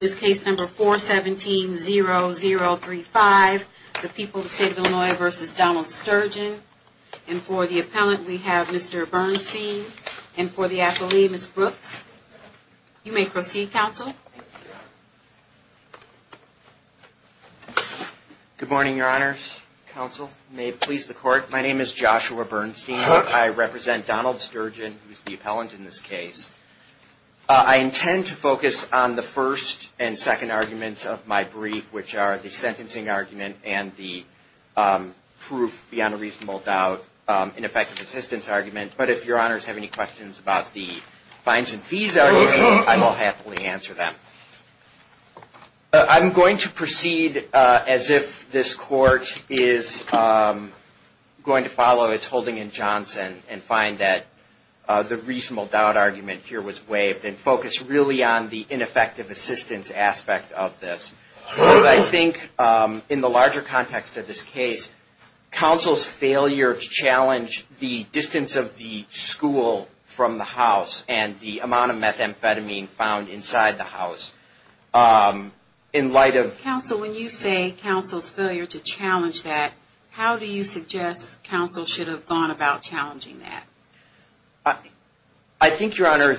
This case number 417-0035, the people of the state of Illinois versus Donald Sturgeon. And for the appellant we have Mr. Bernstein and for the athlete, Ms. Brooks. You may proceed, counsel. Good morning, your honors. Counsel, may it please the court, my name is Joshua Bernstein. I represent Donald Sturgeon, who is the appellant in this case. I intend to focus on the first and second arguments of my brief, which are the sentencing argument and the proof beyond a reasonable doubt ineffective assistance argument. But if your honors have any questions about the fines and fees argument, I will happily answer them. I'm going to proceed as if this court is going to follow its holding in Johnson and find that the reasonable doubt argument here was waived and focus really on the ineffective assistance aspect of this. Because I think in the larger context of this case, counsel's failure to challenge the distance of the school from the house and the amount of methamphetamine found inside the house, in light of Counsel, when you say counsel's failure to challenge that, how do you suggest counsel should have gone about challenging that? I think, your honor,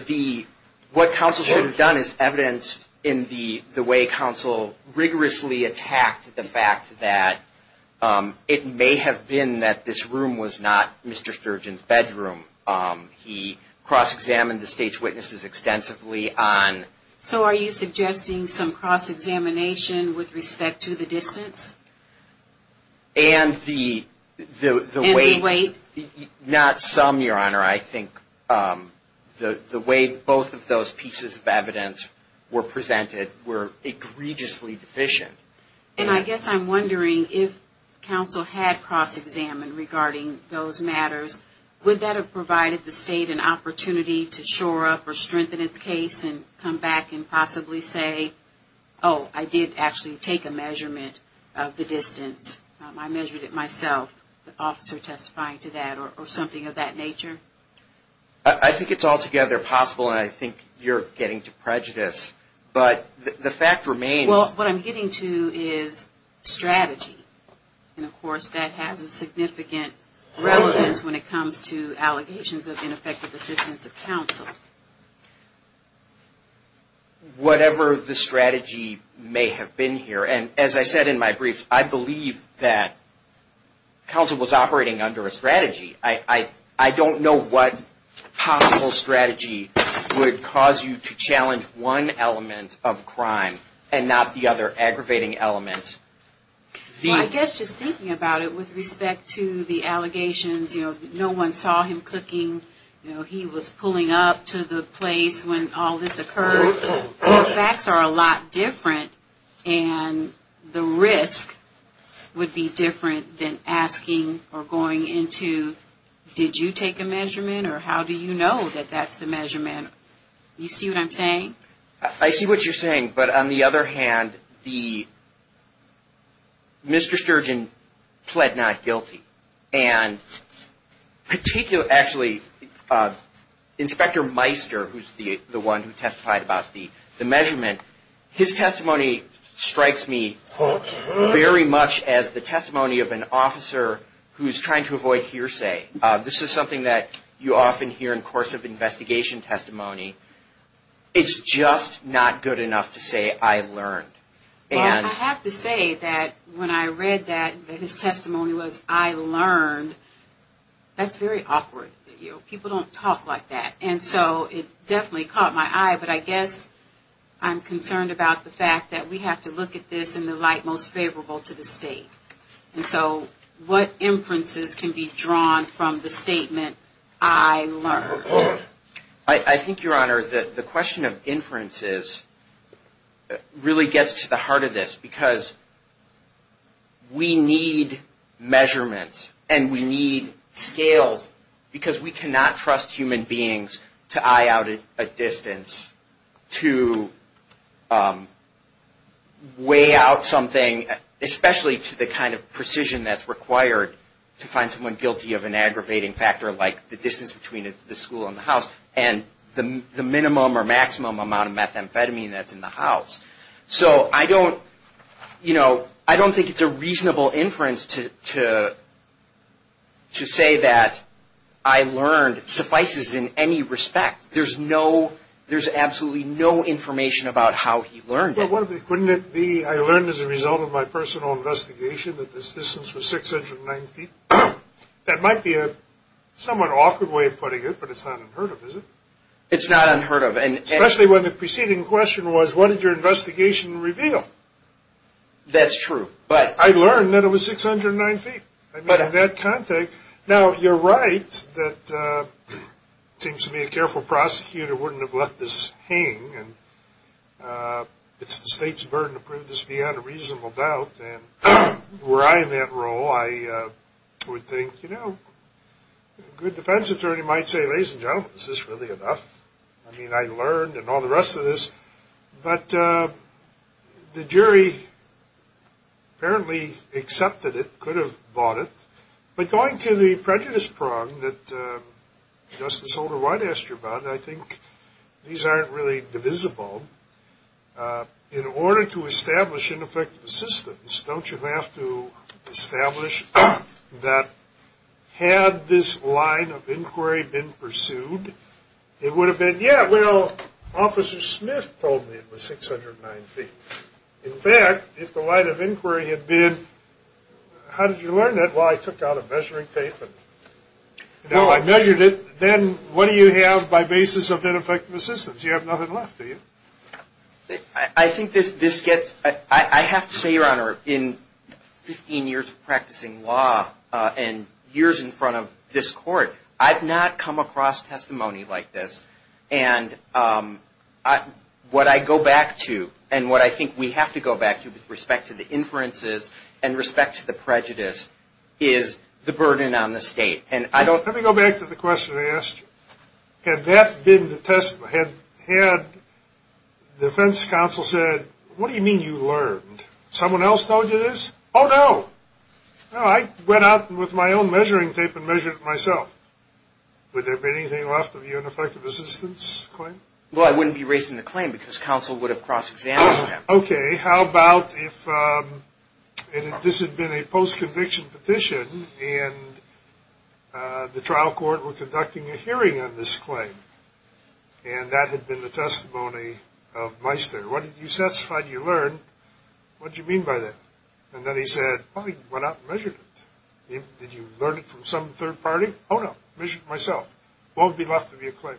what counsel should have done is evidenced in the way counsel rigorously attacked the fact that it may have been that this room was not Mr. Sturgeon's bedroom. He cross-examined the state's witnesses extensively on... So are you suggesting some cross-examination with respect to the distance? And the way... And the weight? Not some, your honor. I think the way both of those pieces of evidence were presented were egregiously deficient. And I guess I'm wondering if counsel had cross-examined regarding those matters, would that have provided the state an opportunity to shore up or strengthen its case and come back and possibly say, Oh, I did actually take a measurement of the distance. I measured it myself. The officer testifying to that or something of that nature. I think it's altogether possible and I think you're getting to prejudice, but the fact remains... Well, what I'm getting to is strategy. And of course, that has a significant relevance when it comes to allegations of ineffective assistance of counsel. Whatever the strategy may have been here. And as I said in my brief, I believe that counsel was operating under a strategy. I don't know what possible strategy would cause you to challenge one element of crime and not the other aggravating element. Well, I guess just thinking about it with respect to the allegations, you know, no one saw him cooking. You know, he was pulling up to the place when all this occurred. The facts are a lot different and the risk would be different than asking or going into, did you take a measurement or how do you know that that's the measurement? You see what I'm saying? I see what you're saying, but on the other hand, Mr. Sturgeon pled not guilty. And particularly, actually, Inspector Meister, who's the one who testified about the measurement, his testimony strikes me very much as the testimony of an officer who's trying to avoid hearsay. This is something that you often hear in course of investigation testimony. It's just not good enough to say, I learned. I have to say that when I read that, that his testimony was, I learned, that's very awkward. People don't talk like that. And so it definitely caught my eye, but I guess I'm concerned about the fact that we have to look at this in the light most favorable to the state. And so what inferences can be drawn from the statement, I learned? I think, Your Honor, the question of inferences really gets to the heart of this because we need measurements and we need scales because we cannot trust human beings to eye out a distance to weigh out something, especially to the kind of precision that's required to find someone guilty of an aggravating factor like the distance between the school and the house and the minimum or maximum amount of methamphetamine that's in the house. So I don't, you know, I don't think it's a reasonable inference to say that I learned suffices in any respect. There's no, there's absolutely no information about how he learned it. But wouldn't it be, I learned as a result of my personal investigation that this distance was 690 feet? That might be a somewhat awkward way of putting it, but it's not unheard of, is it? It's not unheard of. Especially when the preceding question was, what did your investigation reveal? That's true. I learned that it was 609 feet. I mean, in that context. Now, you're right that it seems to me a careful prosecutor wouldn't have let this hang, and it's the state's burden to prove this beyond a reasonable doubt. And were I in that role, I would think, you know, a good defense attorney might say, well, ladies and gentlemen, is this really enough? I mean, I learned and all the rest of this. But the jury apparently accepted it, could have bought it. But going to the prejudice prong that Justice Holder-White asked you about, I think these aren't really divisible. In order to establish ineffective assistance, don't you have to establish that had this line of inquiry been pursued, it would have been, yeah, well, Officer Smith told me it was 609 feet. In fact, if the line of inquiry had been, how did you learn that? Well, I took out a measuring tape and, you know, I measured it. Then what do you have by basis of ineffective assistance? You have nothing left, do you? I think this gets – I have to say, Your Honor, in 15 years of practicing law and years in front of this Court, I've not come across testimony like this. And what I go back to and what I think we have to go back to with respect to the inferences and respect to the prejudice is the burden on the state. Let me go back to the question I asked you. Had that been the test – had defense counsel said, what do you mean you learned? Someone else told you this? Oh, no. I went out with my own measuring tape and measured it myself. Would there have been anything left of your ineffective assistance claim? Well, I wouldn't be raising the claim because counsel would have cross-examined that. Okay. How about if this had been a post-conviction petition and the trial court were conducting a hearing on this claim and that had been the testimony of Meister. What did you satisfy? What did you learn? What did you mean by that? And then he said, oh, he went out and measured it. Did you learn it from some third party? Oh, no. Measured it myself. Won't be left of your claim.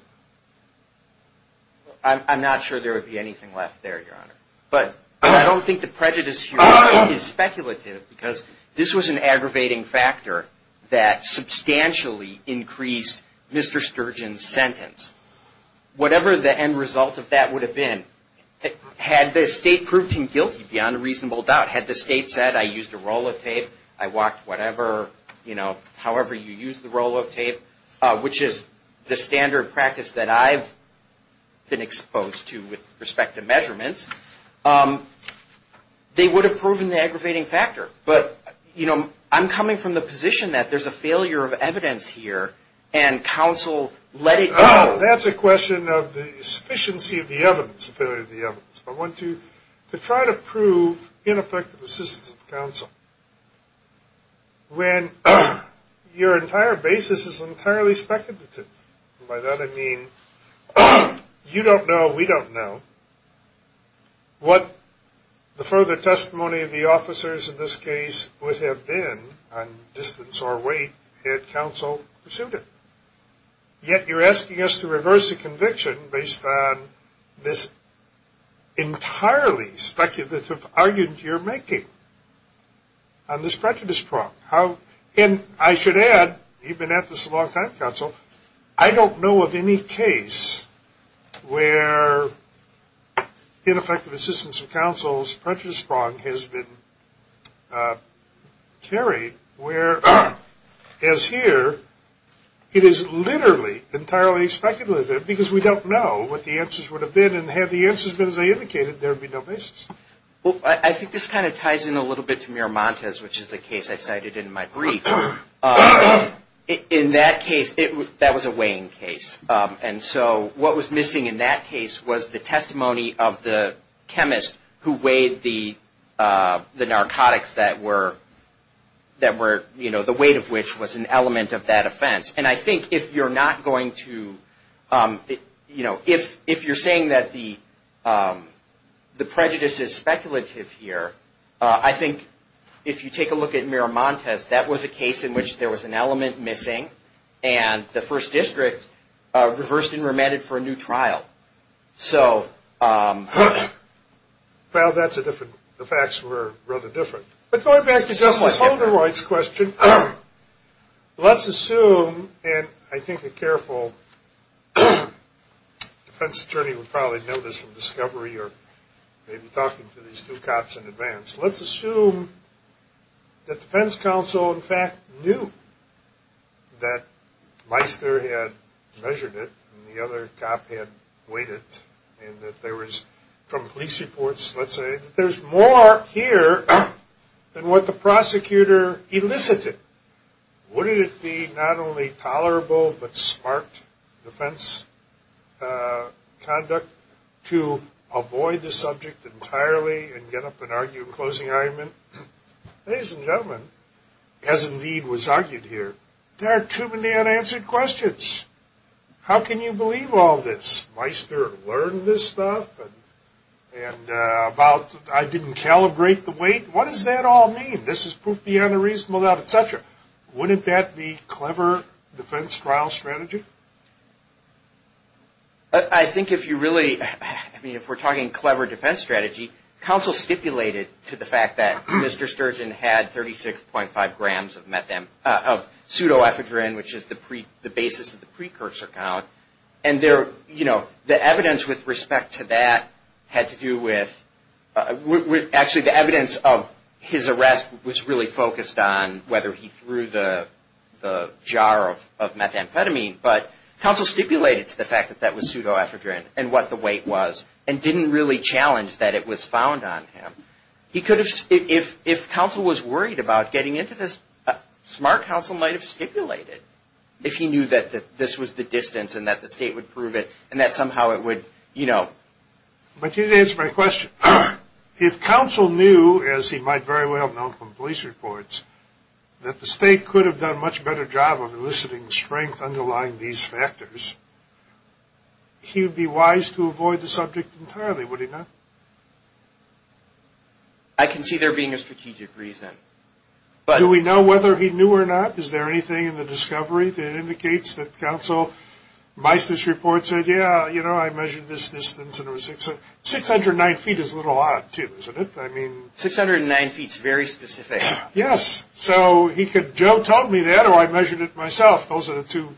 I'm not sure there would be anything left there, Your Honor. But I don't think the prejudice here is speculative because this was an aggravating factor that substantially increased Mr. Sturgeon's sentence. Whatever the end result of that would have been, had the state proved him guilty beyond a reasonable doubt, had the state said I used a roll of tape, I walked whatever, you know, however you use the roll of tape, which is the standard practice that I've been exposed to with respect to measurements, they would have proven the aggravating factor. But, you know, I'm coming from the position that there's a failure of evidence here and counsel let it go. That's a question of the sufficiency of the evidence, the failure of the evidence. I want to try to prove ineffective assistance of counsel when your entire basis is entirely speculative. And by that I mean you don't know, we don't know, what the further testimony of the officers in this case would have been on distance or weight had counsel pursued it. Yet you're asking us to reverse a conviction based on this entirely speculative argument you're making on this prejudice prop. And I should add, you've been at this a long time, counsel, I don't know of any case where ineffective assistance of counsel's prejudice prop has been carried where, as here, it is literally entirely speculative because we don't know what the answers would have been and had the answers been as they indicated, there would be no basis. Well, I think this kind of ties in a little bit to Miramontes, which is the case I cited in my brief. In that case, that was a weighing case. And so what was missing in that case was the testimony of the chemist who weighed the narcotics that were, you know, the weight of which was an element of that offense. And I think if you're not going to, you know, if you're saying that the prejudice is speculative here, I think if you take a look at Miramontes, that was a case in which there was an element missing and the first district reversed and remanded for a new trial. So. Well, that's a different, the facts were rather different. But going back to Justice Holderoid's question, let's assume, and I think a careful defense attorney would probably know this from discovery or maybe talking to these two cops in advance. Let's assume that defense counsel, in fact, knew that Meister had measured it and the other cop had weighed it and that there was, from police reports, let's say, that there's more here than what the prosecutor elicited. Would it be not only tolerable but smart defense conduct to avoid the subject entirely and get up and argue a closing argument? Ladies and gentlemen, as indeed was argued here, there are too many unanswered questions. How can you believe all this? Meister learned this stuff and about I didn't calibrate the weight. What does that all mean? This is proof beyond a reasonable doubt, et cetera. Wouldn't that be clever defense trial strategy? I think if you really, I mean, if we're talking clever defense strategy, counsel stipulated to the fact that Mr. Sturgeon had 36.5 grams of metham, of pseudoephedrine, which is the basis of the precursor count. And the evidence with respect to that had to do with, actually, the evidence of his arrest was really focused on whether he threw the jar of methamphetamine. But counsel stipulated to the fact that that was pseudoephedrine and what the weight was and didn't really challenge that it was found on him. If counsel was worried about getting into this, smart counsel might have stipulated if he knew that this was the distance and that the state would prove it and that somehow it would, you know. But you didn't answer my question. If counsel knew, as he might very well have known from police reports, that the state could have done a much better job of eliciting strength underlying these factors, he would be wise to avoid the subject entirely, would he not? I can see there being a strategic reason. Do we know whether he knew or not? Is there anything in the discovery that indicates that counsel, Meisner's report said, yeah, you know, I measured this distance and it was 609 feet is a little odd too, isn't it? I mean. 609 feet is very specific. Yes. So Joe told me that or I measured it myself. Those are the two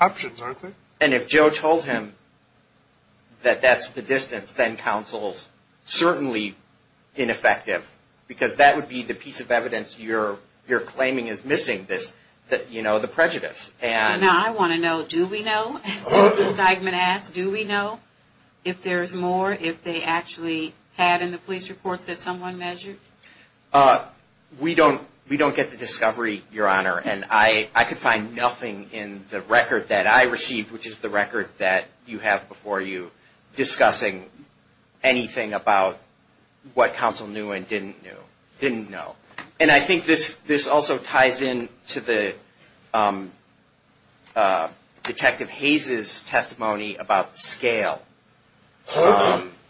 options, aren't they? And if Joe told him that that's the distance, then counsel's certainly ineffective because that would be the piece of evidence you're claiming is missing, you know, the prejudice. Now I want to know, do we know, as Justice Geigman asked, do we know if there's more, if they actually had in the police reports that someone measured? We don't get the discovery, Your Honor. And I could find nothing in the record that I received, which is the record that you have before you, discussing anything about what counsel knew and didn't know. And I think this also ties in to the Detective Hayes' testimony about scale,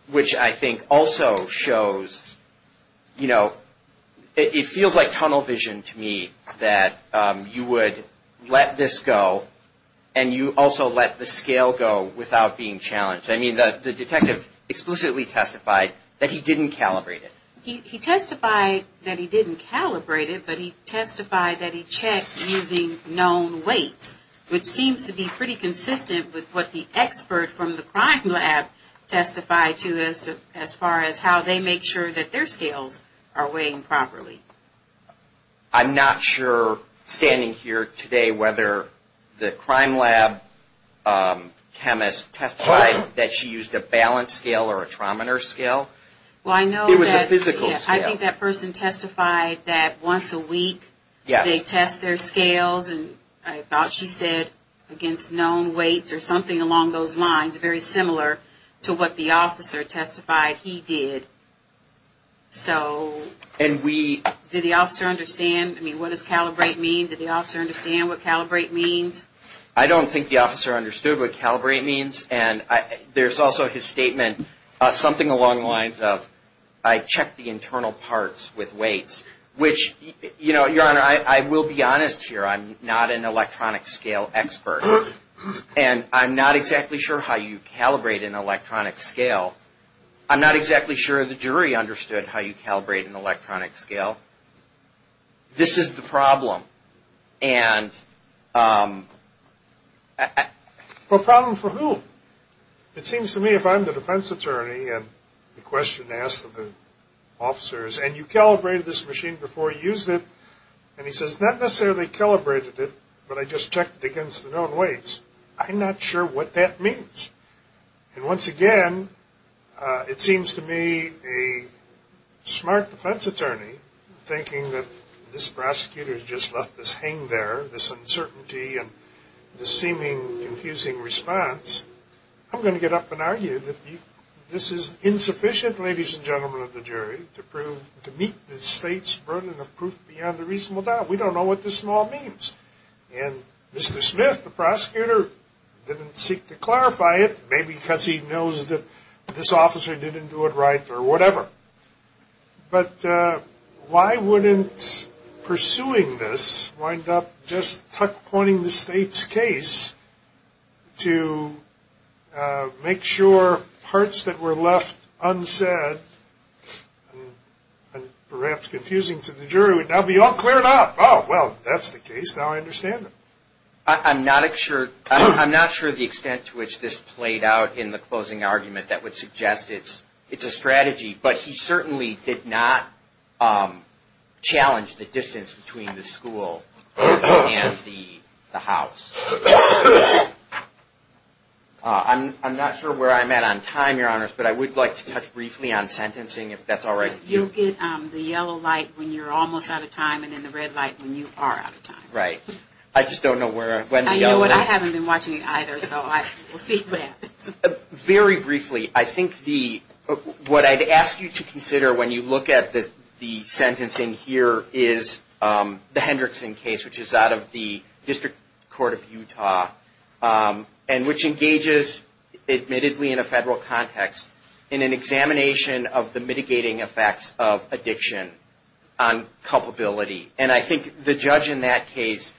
which I think also shows, you know, it feels like tunnel vision to me that you would let this go and you also let the scale go without being challenged. I mean, the detective explicitly testified that he didn't calibrate it. He testified that he didn't calibrate it, but he testified that he checked using known weights, which seems to be pretty consistent with what the expert from the crime lab testified to as far as how they make sure that their scales are weighing properly. I'm not sure, standing here today, whether the crime lab chemist testified that she used a balance scale or a trometer scale. It was a physical scale. I think that person testified that once a week they test their scales, and I thought she said against known weights or something along those lines, very similar to what the officer testified he did. Did the officer understand? I mean, what does calibrate mean? Did the officer understand what calibrate means? I don't think the officer understood what calibrate means. There's also his statement, something along the lines of, I checked the internal parts with weights, which, you know, Your Honor, I will be honest here. I'm not an electronic scale expert, and I'm not exactly sure how you calibrate an electronic scale. I'm not exactly sure the jury understood how you calibrate an electronic scale. This is the problem. And the problem for whom? It seems to me if I'm the defense attorney and the question asked of the officers, and you calibrated this machine before you used it, and he says, not necessarily calibrated it, but I just checked it against the known weights, I'm not sure what that means. And once again, it seems to me a smart defense attorney thinking that this prosecutor has just left this hang there, this uncertainty and this seeming confusing response. I'm going to get up and argue that this is insufficient, ladies and gentlemen of the jury, to meet the state's burden of proof beyond a reasonable doubt. We don't know what this all means. And Mr. Smith, the prosecutor, didn't seek to clarify it, maybe because he knows that this officer didn't do it right or whatever. But why wouldn't pursuing this wind up just tuck-pointing the state's case to make sure parts that were left unsaid and perhaps confusing to the jury would now be all cleared up? Oh, well, that's the case. Now I understand it. I'm not sure the extent to which this played out in the closing argument that would suggest it's a strategy. But he certainly did not challenge the distance between the school and the house. I'm not sure where I'm at on time, Your Honors, but I would like to touch briefly on sentencing, if that's all right with you. You'll get the yellow light when you're almost out of time and then the red light when you are out of time. Right. I just don't know when the yellow light is. You know what, I haven't been watching either, so we'll see what happens. Very briefly, I think what I'd ask you to consider when you look at the sentencing here is the Hendrickson case, which is out of the District Court of Utah and which engages, admittedly in a federal context, in an examination of the mitigating effects of addiction on culpability. And I think the judge in that case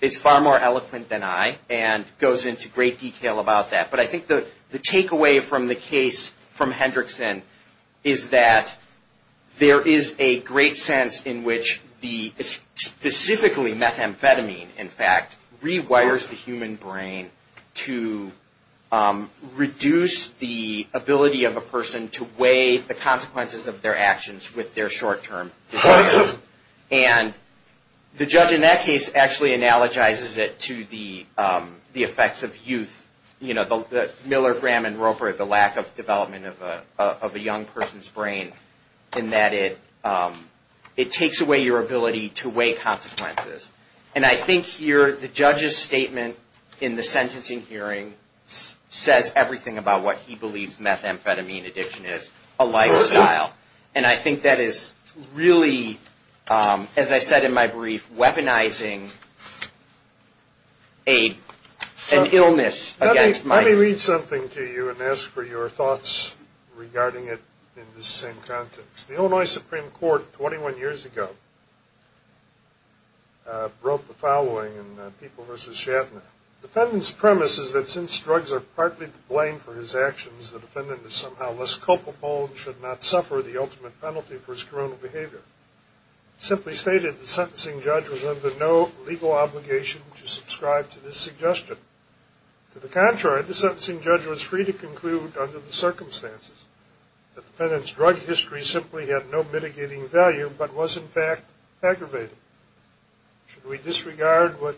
is far more eloquent than I and goes into great detail about that. But I think the takeaway from the case from Hendrickson is that there is a great sense in which specifically methamphetamine, in fact, rewires the human brain to reduce the ability of a person to weigh the consequences of their actions with their short-term decisions. And the judge in that case actually analogizes it to the effects of youth, you know, Miller, Graham, and Roper, the lack of development of a young person's brain in that it takes away your ability to weigh consequences. And I think here the judge's statement in the sentencing hearing says everything about what he believes methamphetamine addiction is, and I think that is really, as I said in my brief, weaponizing an illness against might. Let me read something to you and ask for your thoughts regarding it in this same context. The Illinois Supreme Court 21 years ago wrote the following in People v. Shatner. The defendant's premise is that since drugs are partly to blame for his actions, the defendant is somehow less culpable and should not suffer the ultimate penalty for his criminal behavior. Simply stated, the sentencing judge was under no legal obligation to subscribe to this suggestion. To the contrary, the sentencing judge was free to conclude under the circumstances that the defendant's drug history simply had no mitigating value but was, in fact, aggravating. Should we disregard what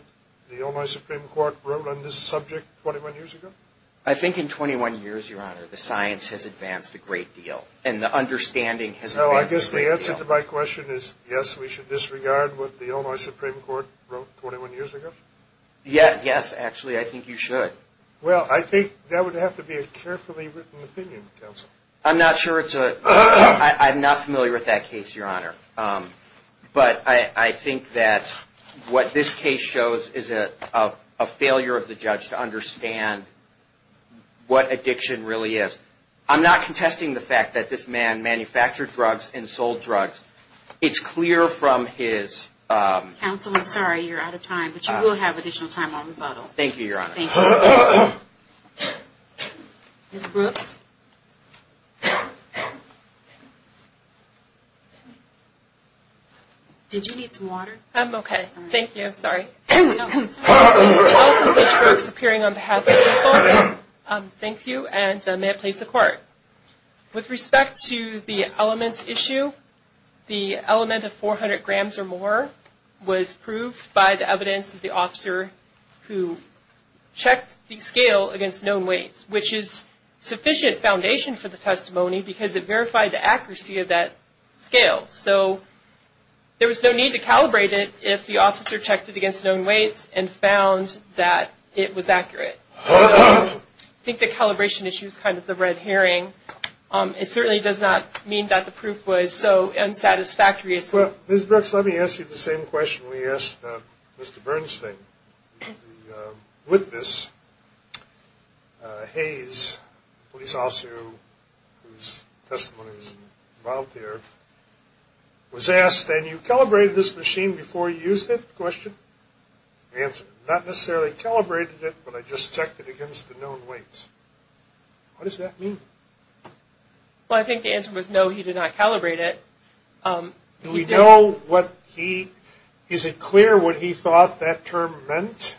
the Illinois Supreme Court wrote on this subject 21 years ago? I think in 21 years, Your Honor, the science has advanced a great deal, and the understanding has advanced a great deal. So I guess the answer to my question is yes, we should disregard what the Illinois Supreme Court wrote 21 years ago? Yes, actually, I think you should. Well, I think that would have to be a carefully written opinion, counsel. I'm not sure it's a – I'm not familiar with that case, Your Honor. But I think that what this case shows is a failure of the judge to understand what addiction really is. I'm not contesting the fact that this man manufactured drugs and sold drugs. It's clear from his – Counsel, I'm sorry, you're out of time, but you will have additional time on rebuttal. Thank you, Your Honor. Thank you. Ms. Brooks? Did you need some water? I'm okay. Thank you. Sorry. Also, Ms. Brooks, appearing on behalf of counsel, thank you, and may it please the Court. With respect to the elements issue, the element of 400 grams or more was proved by the evidence of the officer who checked the scale against known weights, which is sufficient foundation for the testimony because it verified the accuracy of that scale. So there was no need to calibrate it if the officer checked it against known weights and found that it was accurate. So I think the calibration issue is kind of the red herring. It certainly does not mean that the proof was so unsatisfactory. Ms. Brooks, let me ask you the same question we asked Mr. Bernstein. The witness, Hayes, a police officer whose testimony was involved there, was asked, have you calibrated this machine before you used it? The answer, not necessarily calibrated it, but I just checked it against the known weights. What does that mean? Well, I think the answer was no, he did not calibrate it. Do we know what he – is it clear what he thought that term meant?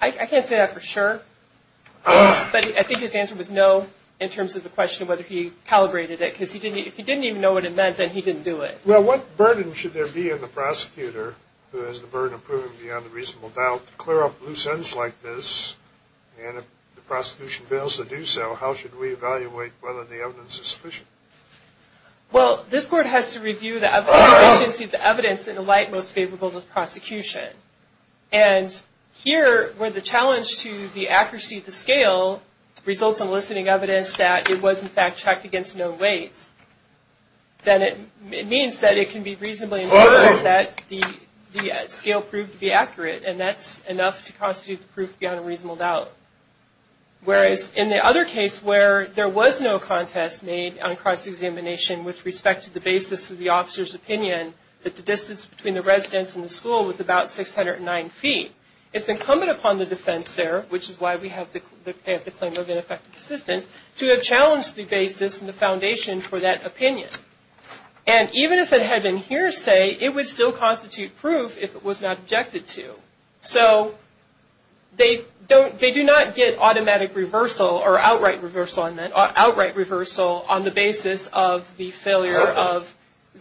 I can't say that for sure, but I think his answer was no in terms of the question of whether he calibrated it because if he didn't even know what it meant, then he didn't do it. Well, what burden should there be on the prosecutor who has the burden of proving beyond a reasonable doubt to clear up loose ends like this? And if the prosecution fails to do so, how should we evaluate whether the evidence is sufficient? Well, this court has to review the evidence and see if the evidence is in the light most favorable to the prosecution. And here, where the challenge to the accuracy of the scale results in eliciting evidence that it was in fact checked against known weights, then it means that it can be reasonably inferred that the scale proved to be accurate, and that's enough to constitute the proof beyond a reasonable doubt. Whereas in the other case where there was no contest made on cross-examination with respect to the basis of the officer's opinion that the distance between the residence and the school was about 609 feet, it's incumbent upon the defense there, which is why we have the claim of ineffective assistance, to have challenged the basis and the foundation for that opinion. And even if it had been hearsay, it would still constitute proof if it was not objected to. So they do not get automatic reversal or outright reversal on the basis of the failure of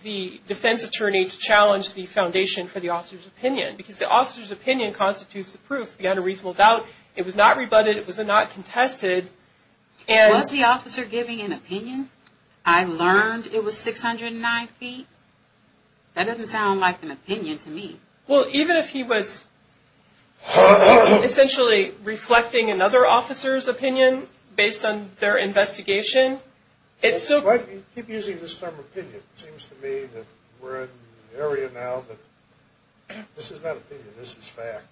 the defense attorney to challenge the foundation for the officer's opinion, because the officer's opinion constitutes the proof beyond a reasonable doubt. It was not rebutted. It was not contested. Was the officer giving an opinion? I learned it was 609 feet. That doesn't sound like an opinion to me. Well, even if he was essentially reflecting another officer's opinion based on their investigation, it's still... If I keep using this term opinion, it seems to me that we're in an area now that this is not opinion, this is fact.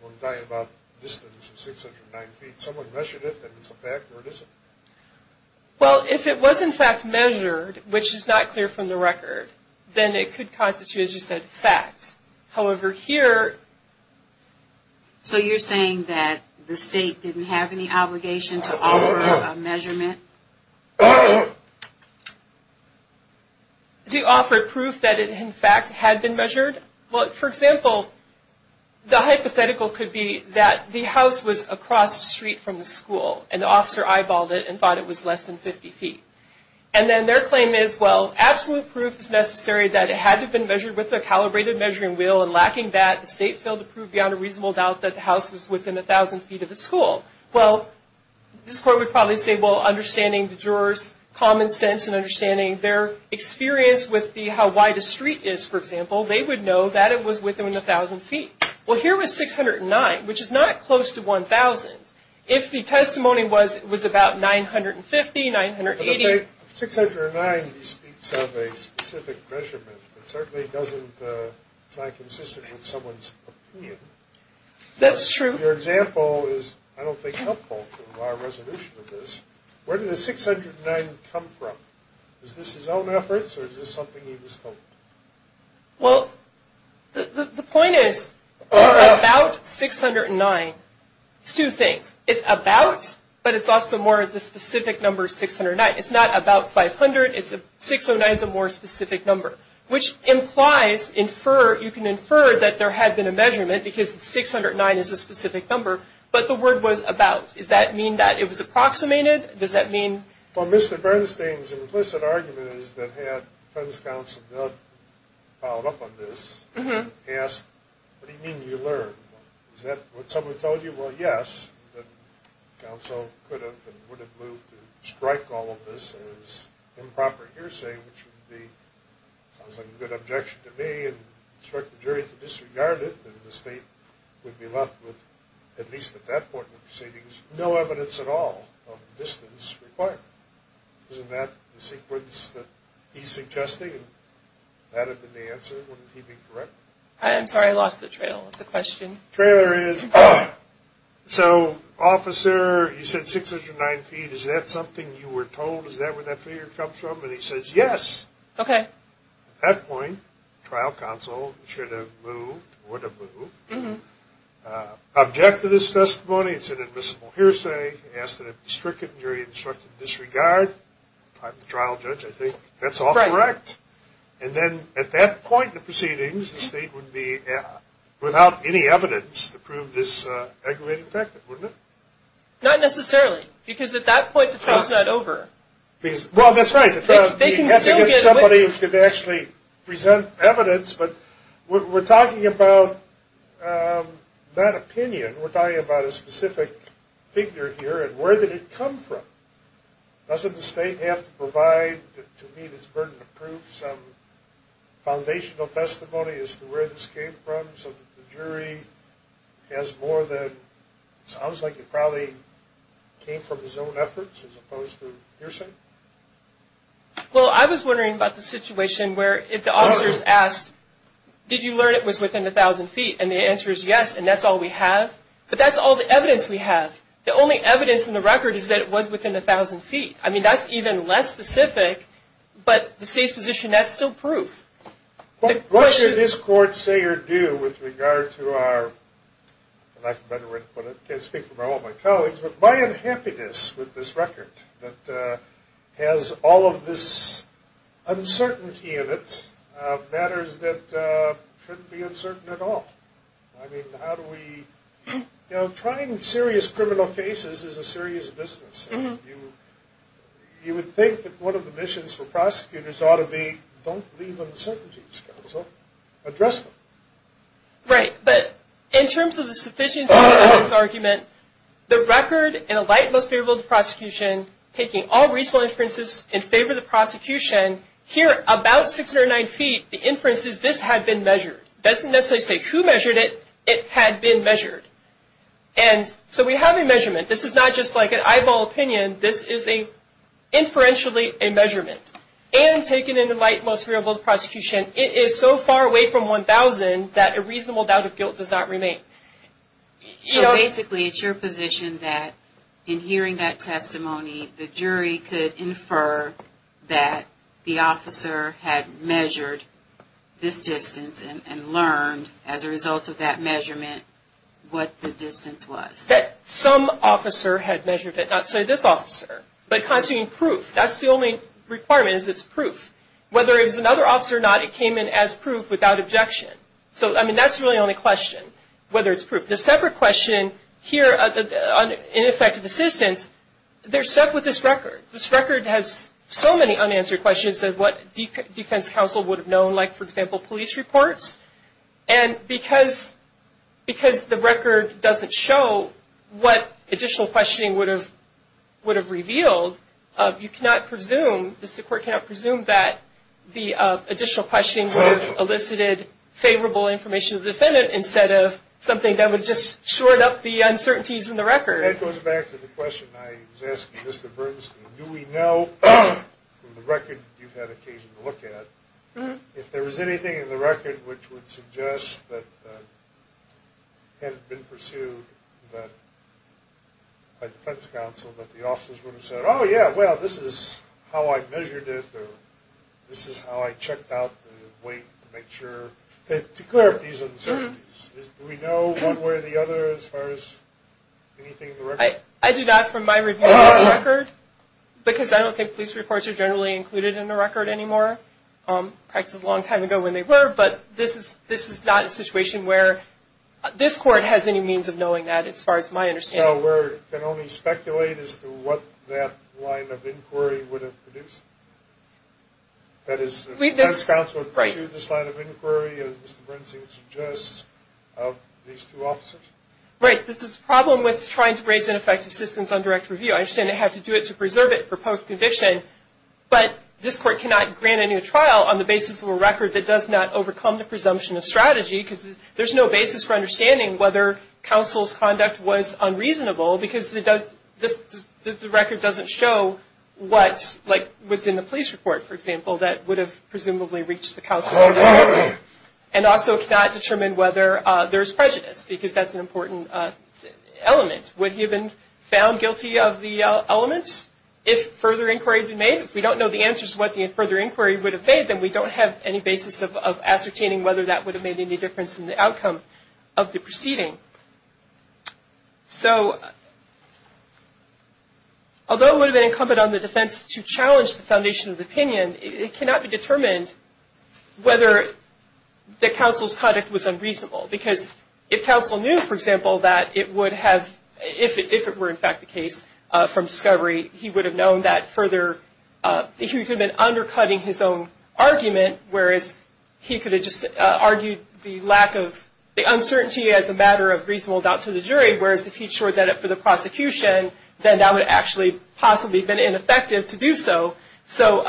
One guy about the distance of 609 feet, someone measured it, and it's a fact, or it isn't? Well, if it was in fact measured, which is not clear from the record, then it could constitute, as you said, facts. However, here... So you're saying that the state didn't have any obligation to offer a measurement? To offer proof that it in fact had been measured? Well, for example, the hypothetical could be that the house was across the street from the school, and the officer eyeballed it and thought it was less than 50 feet. And then their claim is, well, absolute proof is necessary that it had to have been measured with a calibrated measuring wheel, and lacking that, the state failed to prove beyond a reasonable doubt that the house was within 1,000 feet of the school. Well, this court would probably say, well, understanding the jurors' common sense and understanding their experience with how wide a street is, for example, they would know that it was within 1,000 feet. Well, here it was 609, which is not close to 1,000. If the testimony was about 950, 980... But if 609 speaks of a specific measurement, it certainly doesn't sound consistent with someone's opinion. That's true. Your example is, I don't think, helpful to our resolution of this. Where did the 609 come from? Is this his own efforts, or is this something he was told? Well, the point is, about 609, it's two things. It's about, but it's also more the specific number 609. It's not about 500. 609 is a more specific number, which implies you can infer that there had been a measurement, because 609 is a specific number, but the word was about. Does that mean that it was approximated? Does that mean... Well, Mr. Bernstein's implicit argument is that had the defense counsel not followed up on this and asked, what do you mean you learned? Is that what someone told you? Well, yes, the counsel could have and would have moved to strike all of this as improper hearsay, which would be, sounds like a good objection to me, and instruct the jury to disregard it, and the state would be left with, at least at that point in proceedings, no evidence at all of a distance requirement. Isn't that the sequence that he's suggesting? If that had been the answer, wouldn't he be correct? I'm sorry, I lost the trail of the question. The trailer is, so, officer, you said 609 feet. Is that something you were told? Is that where that figure comes from? And he says, yes. Okay. At that point, trial counsel should have moved, would have moved, objected to this testimony, it's an admissible hearsay, asked that it be stricken, jury instructed to disregard. I'm the trial judge. I think that's all correct. And then at that point in the proceedings, the state would be without any evidence to prove this aggravated infection, wouldn't it? Not necessarily, because at that point the trial's not over. Well, that's right. Somebody could actually present evidence, but we're talking about not opinion, we're talking about a specific figure here, and where did it come from? Doesn't the state have to provide to meet its burden of proof some foundational testimony as to where this came from so that the jury has more than, it sounds like it probably came from his own efforts as opposed to hearsay. Well, I was wondering about the situation where if the officers asked, did you learn it was within 1,000 feet? And the answer is yes, and that's all we have. But that's all the evidence we have. The only evidence in the record is that it was within 1,000 feet. I mean, that's even less specific, but the state's position, that's still proof. What should this court say or do with regard to our, and I can speak for all my colleagues, but my unhappiness with this record that has all of this uncertainty in it, matters that shouldn't be uncertain at all. I mean, how do we, you know, trying serious criminal cases is a serious business. You would think that one of the missions for prosecutors ought to be don't leave uncertainties, counsel, address them. Right, but in terms of the sufficiency of this argument, the record in a light most favorable to prosecution, taking all reasonable inferences in favor of the prosecution, here about 609 feet, the inference is this had been measured. It doesn't necessarily say who measured it, it had been measured. And so we have a measurement. This is not just like an eyeball opinion. This is inferentially a measurement. And taken in a light most favorable to prosecution, it is so far away from 1,000 that a reasonable doubt of guilt does not remain. So basically it's your position that in hearing that testimony, the jury could infer that the officer had measured this distance and learned as a result of that measurement what the distance was. That some officer had measured it, not say this officer. But constituting proof, that's the only requirement is it's proof. Whether it was another officer or not, it came in as proof without objection. So, I mean, that's really the only question, whether it's proof. The separate question here on ineffective assistance, they're stuck with this record. This record has so many unanswered questions of what defense counsel would have known, like, for example, police reports. And because the record doesn't show what additional questioning would have revealed, you cannot presume, the court cannot presume that the additional questioning would have elicited favorable information to the defendant instead of something that would have just shored up the uncertainties in the record. That goes back to the question I was asking Mr. Bernstein. Do we know from the record you've had occasion to look at, if there was anything in the record which would suggest that had it been pursued by defense counsel that the officers would have said, oh, yeah, well, this is how I measured it, or this is how I checked out the weight to make sure, to clear up these uncertainties. Do we know one way or the other as far as anything in the record? I do not from my review of this record because I don't think police reports are generally included in the record anymore, perhaps a long time ago when they were, but this is not a situation where this court has any means of knowing that as far as my understanding. So we can only speculate as to what that line of inquiry would have produced? That is, defense counsel pursued this line of inquiry, as Mr. Bernstein suggests, of these two officers? Right. This is the problem with trying to raise ineffective systems on direct review. I understand they have to do it to preserve it for post-conviction, but this court cannot grant any trial on the basis of a record that does not overcome the presumption of strategy because there's no basis for understanding whether counsel's conduct was unreasonable because the record doesn't show what was in the police report, for example, that would have presumably reached the counsel. And also cannot determine whether there's prejudice because that's an important element. Would he have been found guilty of the elements if further inquiry had been made? If we don't know the answers to what the further inquiry would have made, then we don't have any basis of ascertaining whether that would have made any difference in the outcome of the proceeding. So although it would have been incumbent on the defense to challenge the foundation of the opinion, it cannot be determined whether the counsel's conduct was unreasonable because if counsel knew, for example, that it would have, if it were in fact the case from discovery, he would have known that further, he could have been undercutting his own argument, whereas he could have just argued the lack of, the uncertainty as a matter of reasonable doubt to the jury, whereas if he'd shored that up for the prosecution, then that would have actually possibly been ineffective to do so. So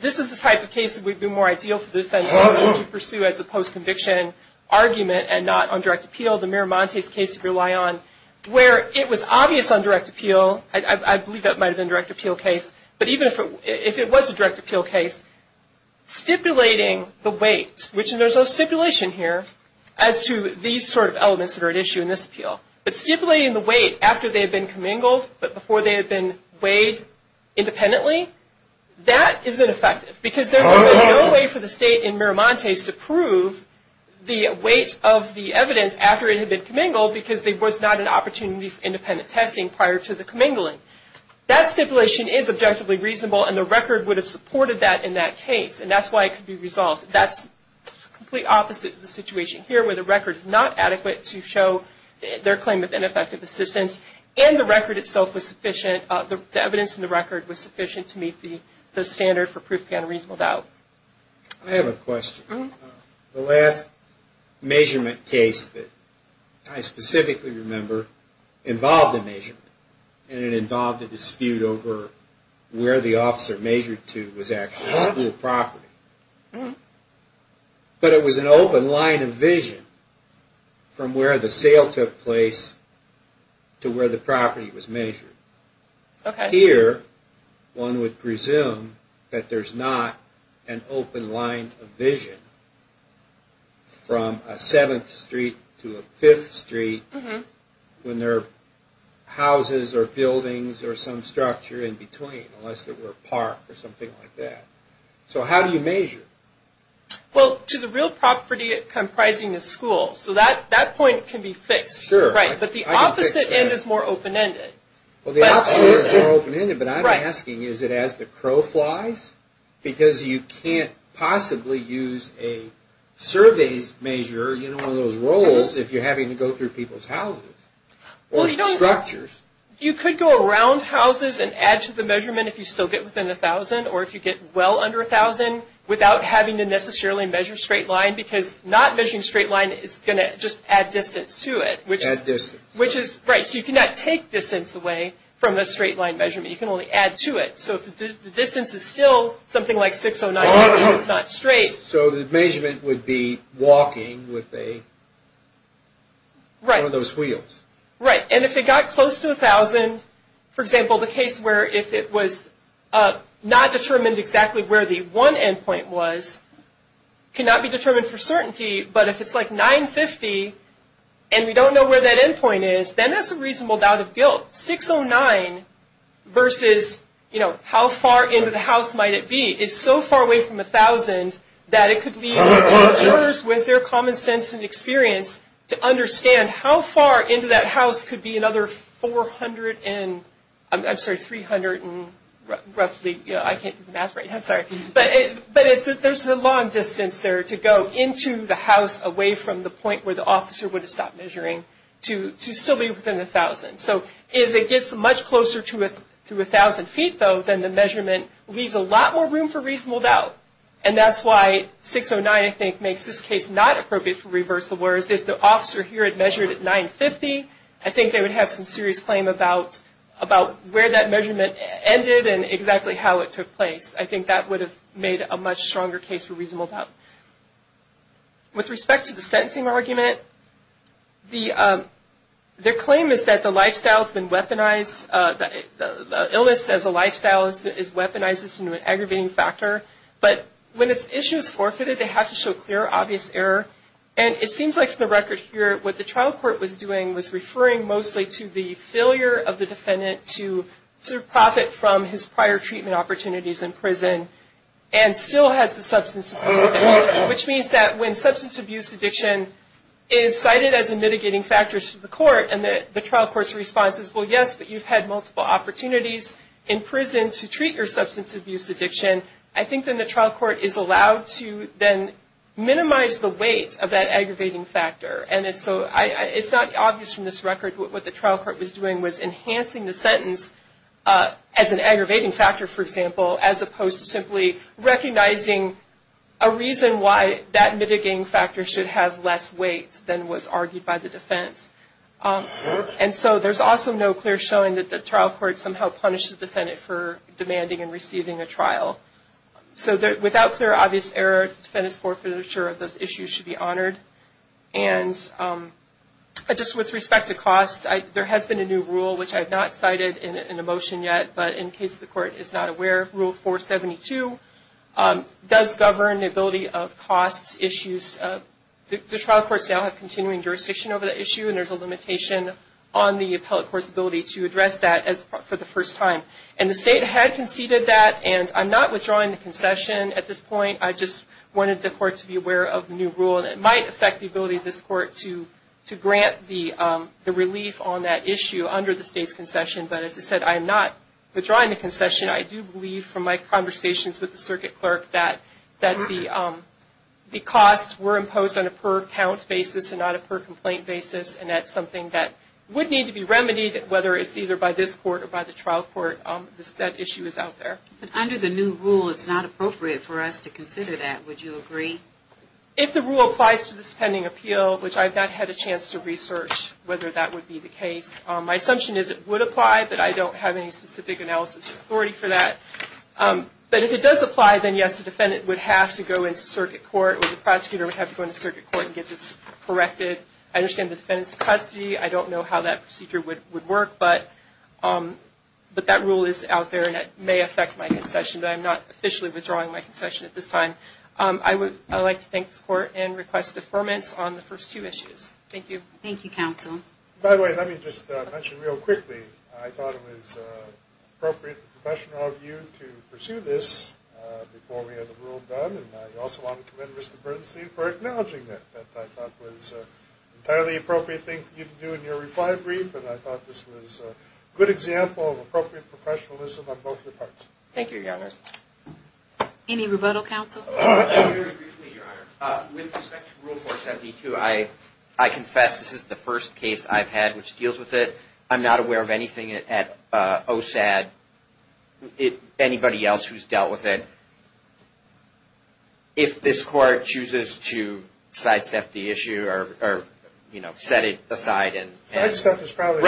this is the type of case that would be more ideal for the defense to pursue as a post-conviction argument and not on direct appeal, the Miramontes case to rely on, where it was obvious on direct appeal, I believe that might have been a direct appeal case, but even if it was a direct appeal case, stipulating the weight, which there's no stipulation here as to these sort of elements that are at issue in this appeal, but stipulating the weight after they had been commingled but before they had been weighed independently, that isn't effective because there's no way for the state in Miramontes to prove the weight of the evidence after it had been commingled because there was not an opportunity for independent testing prior to the commingling. That stipulation is objectively reasonable and the record would have supported that in that case and that's why it could be resolved. That's the complete opposite of the situation here where the record is not adequate to show their claim of ineffective assistance and the record itself was sufficient, the evidence in the record was sufficient to meet the standard for proof beyond reasonable doubt. I have a question. The last measurement case that I specifically remember involved a measurement and it involved a dispute over where the officer measured to was actually school property. But it was an open line of vision from where the sale took place to where the property was measured. Here, one would presume that there's not an open line of vision from a 7th street to a 5th street when there are houses or buildings or some structure in between, unless there were a park or something like that. So how do you measure? Well, to the real property comprising a school. So that point can be fixed, but the opposite end is more open-ended. Well, the opposite end is more open-ended, but I'm asking, is it as the crow flies? Because you can't possibly use a surveys measure, you know, one of those rolls if you're having to go through people's houses or structures. You could go around houses and add to the measurement if you still get within 1,000 or if you get well under 1,000 without having to necessarily measure straight line because not measuring straight line is going to just add distance to it. Add distance. Right, so you cannot take distance away from a straight line measurement. You can only add to it. So if the distance is still something like 609, it's not straight. So the measurement would be walking with one of those wheels. Right, and if it got close to 1,000, for example, the case where if it was not determined exactly where the one end point was, cannot be determined for certainty, but if it's like 950 and we don't know where that end point is, then that's a reasonable doubt of guilt. 609 versus, you know, how far into the house might it be is so far away from 1,000 that it could leave learners with their common sense and experience to understand how far into that house could be another 400 and, I'm sorry, 300 and roughly, you know, I can't do the math right now, sorry. But there's a long distance there to go into the house away from the point where the officer would have stopped measuring to still be within 1,000. So as it gets much closer to 1,000 feet, though, then the measurement leaves a lot more room for reasonable doubt. And that's why 609, I think, makes this case not appropriate for reversal, whereas if the officer here had measured at 950, I think they would have some serious claim about where that measurement ended and exactly how it took place. I think that would have made a much stronger case for reasonable doubt. With respect to the sentencing argument, their claim is that the lifestyle has been weaponized, the illness as a lifestyle is weaponized as an aggravating factor. But when an issue is forfeited, they have to show clear, obvious error. And it seems like, for the record here, what the trial court was doing was referring mostly to the failure of the defendant to profit from his prior treatment opportunities in prison and still has the substance abuse addiction, which means that when substance abuse addiction is cited as a mitigating factor to the court and the trial court's response is, well, yes, but you've had multiple opportunities in prison to treat your substance abuse addiction, I think then the trial court is allowed to then minimize the weight of that aggravating factor. And so it's not obvious from this record what the trial court was doing was enhancing the sentence as an aggravating factor, for example, as opposed to simply recognizing a reason why that mitigating factor should have less weight than was argued by the defense. And so there's also no clear showing that the trial court somehow punished the defendant for demanding and receiving a trial. So without clear, obvious error, the Defendant's Court forfeiture of those issues should be honored. And just with respect to costs, there has been a new rule, which I have not cited in a motion yet, but in case the court is not aware, Rule 472 does govern the ability of costs issues. The trial courts now have continuing jurisdiction over the issue, and there's a limitation on the appellate court's ability to address that for the first time. And the state had conceded that, and I'm not withdrawing the concession at this point. I just wanted the court to be aware of the new rule, and it might affect the ability of this court to grant the relief on that issue under the state's concession. But as I said, I am not withdrawing the concession. I do believe from my conversations with the circuit clerk that the costs were imposed on a per-count basis and not a per-complaint basis, and that's something that would need to be remedied, whether it's either by this court or by the trial court. That issue is out there. But under the new rule, it's not appropriate for us to consider that. Would you agree? If the rule applies to this pending appeal, which I've not had a chance to research whether that would be the case, my assumption is it would apply, but I don't have any specific analysis or authority for that. But if it does apply, then yes, the Defendant would have to go into circuit court, or the prosecutor would have to go into circuit court and get this corrected. I understand the Defendant's in custody. I don't know how that procedure would work, but that rule is out there, and it may affect my concession, but I'm not officially withdrawing my concession at this time. I would like to thank this court and request deferments on the first two issues. Thank you. Thank you, counsel. By the way, let me just mention real quickly, I thought it was appropriate and professional of you to pursue this before we had the rule done, and I also want to commend Mr. Bernstein for acknowledging that. I thought it was an entirely appropriate thing for you to do in your reply brief, and I thought this was a good example of appropriate professionalism on both your parts. Thank you, Your Honor. Any rebuttal, counsel? With respect to Rule 472, I confess this is the first case I've had which deals with it. I'm not aware of anything at OSAD, anybody else who's dealt with it. If this court chooses to sidestep the issue or, you know, set it aside. Sidestep is probably the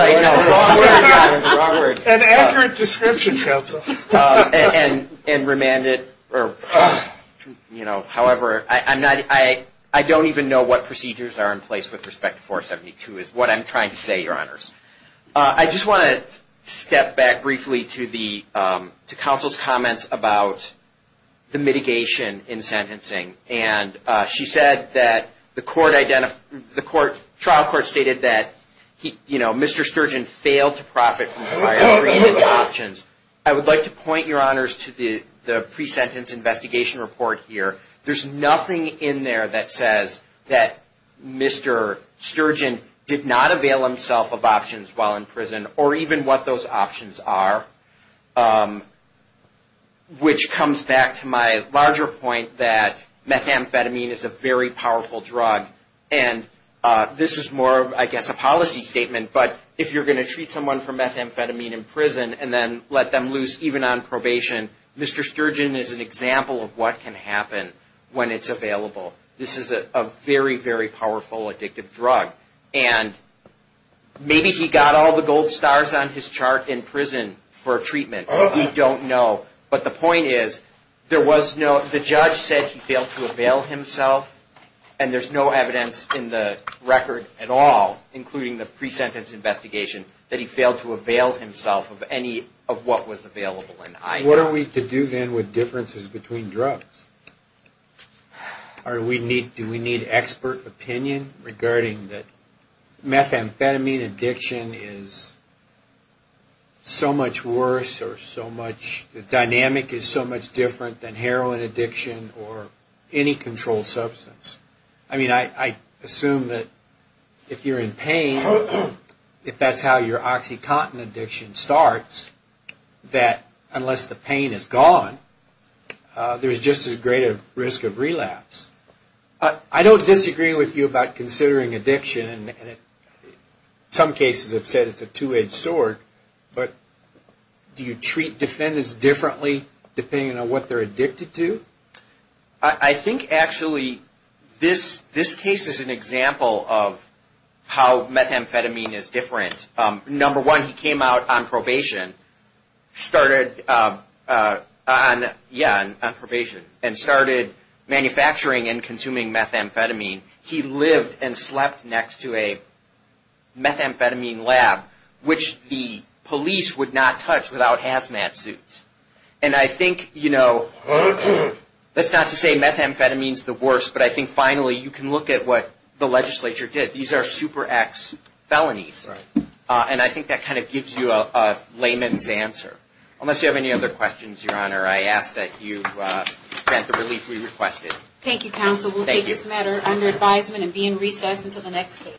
wrong word. An accurate description, counsel. And remand it or, you know, however. I don't even know what procedures are in place with respect to 472 is what I'm trying to say, Your Honors. I just want to step back briefly to counsel's comments about the mitigation in sentencing, and she said that the trial court stated that, you know, Mr. Sturgeon failed to profit from prior options. I would like to point, Your Honors, to the pre-sentence investigation report here. There's nothing in there that says that Mr. Sturgeon did not avail himself of options while in prison, or even what those options are, which comes back to my larger point that methamphetamine is a very powerful drug. And this is more of, I guess, a policy statement, but if you're going to treat someone for methamphetamine in prison and then let them loose even on probation, Mr. Sturgeon is an example of what can happen when it's available. This is a very, very powerful addictive drug. And maybe he got all the gold stars on his chart in prison for treatment. We don't know. But the point is, there was no – the judge said he failed to avail himself, and there's no evidence in the record at all, including the pre-sentence investigation, that he failed to avail himself of any of what was available. What are we to do then with differences between drugs? Do we need expert opinion regarding that methamphetamine addiction is so much worse or so much – the dynamic is so much different than heroin addiction or any controlled substance? I mean, I assume that if you're in pain, if that's how your OxyContin addiction starts, that unless the pain is gone, there's just as great a risk of relapse. I don't disagree with you about considering addiction. Some cases have said it's a two-edged sword, but do you treat defendants differently depending on what they're addicted to? I think, actually, this case is an example of how methamphetamine is different. Number one, he came out on probation and started manufacturing and consuming methamphetamine. He lived and slept next to a methamphetamine lab, which the police would not touch without hazmat suits. And I think, you know, that's not to say methamphetamine is the worst, but I think, finally, you can look at what the legislature did. These are Super X felonies, and I think that kind of gives you a layman's answer. Unless you have any other questions, Your Honor, I ask that you grant the relief we requested. Thank you, counsel. We'll take this matter under advisement and be in recess until the next case.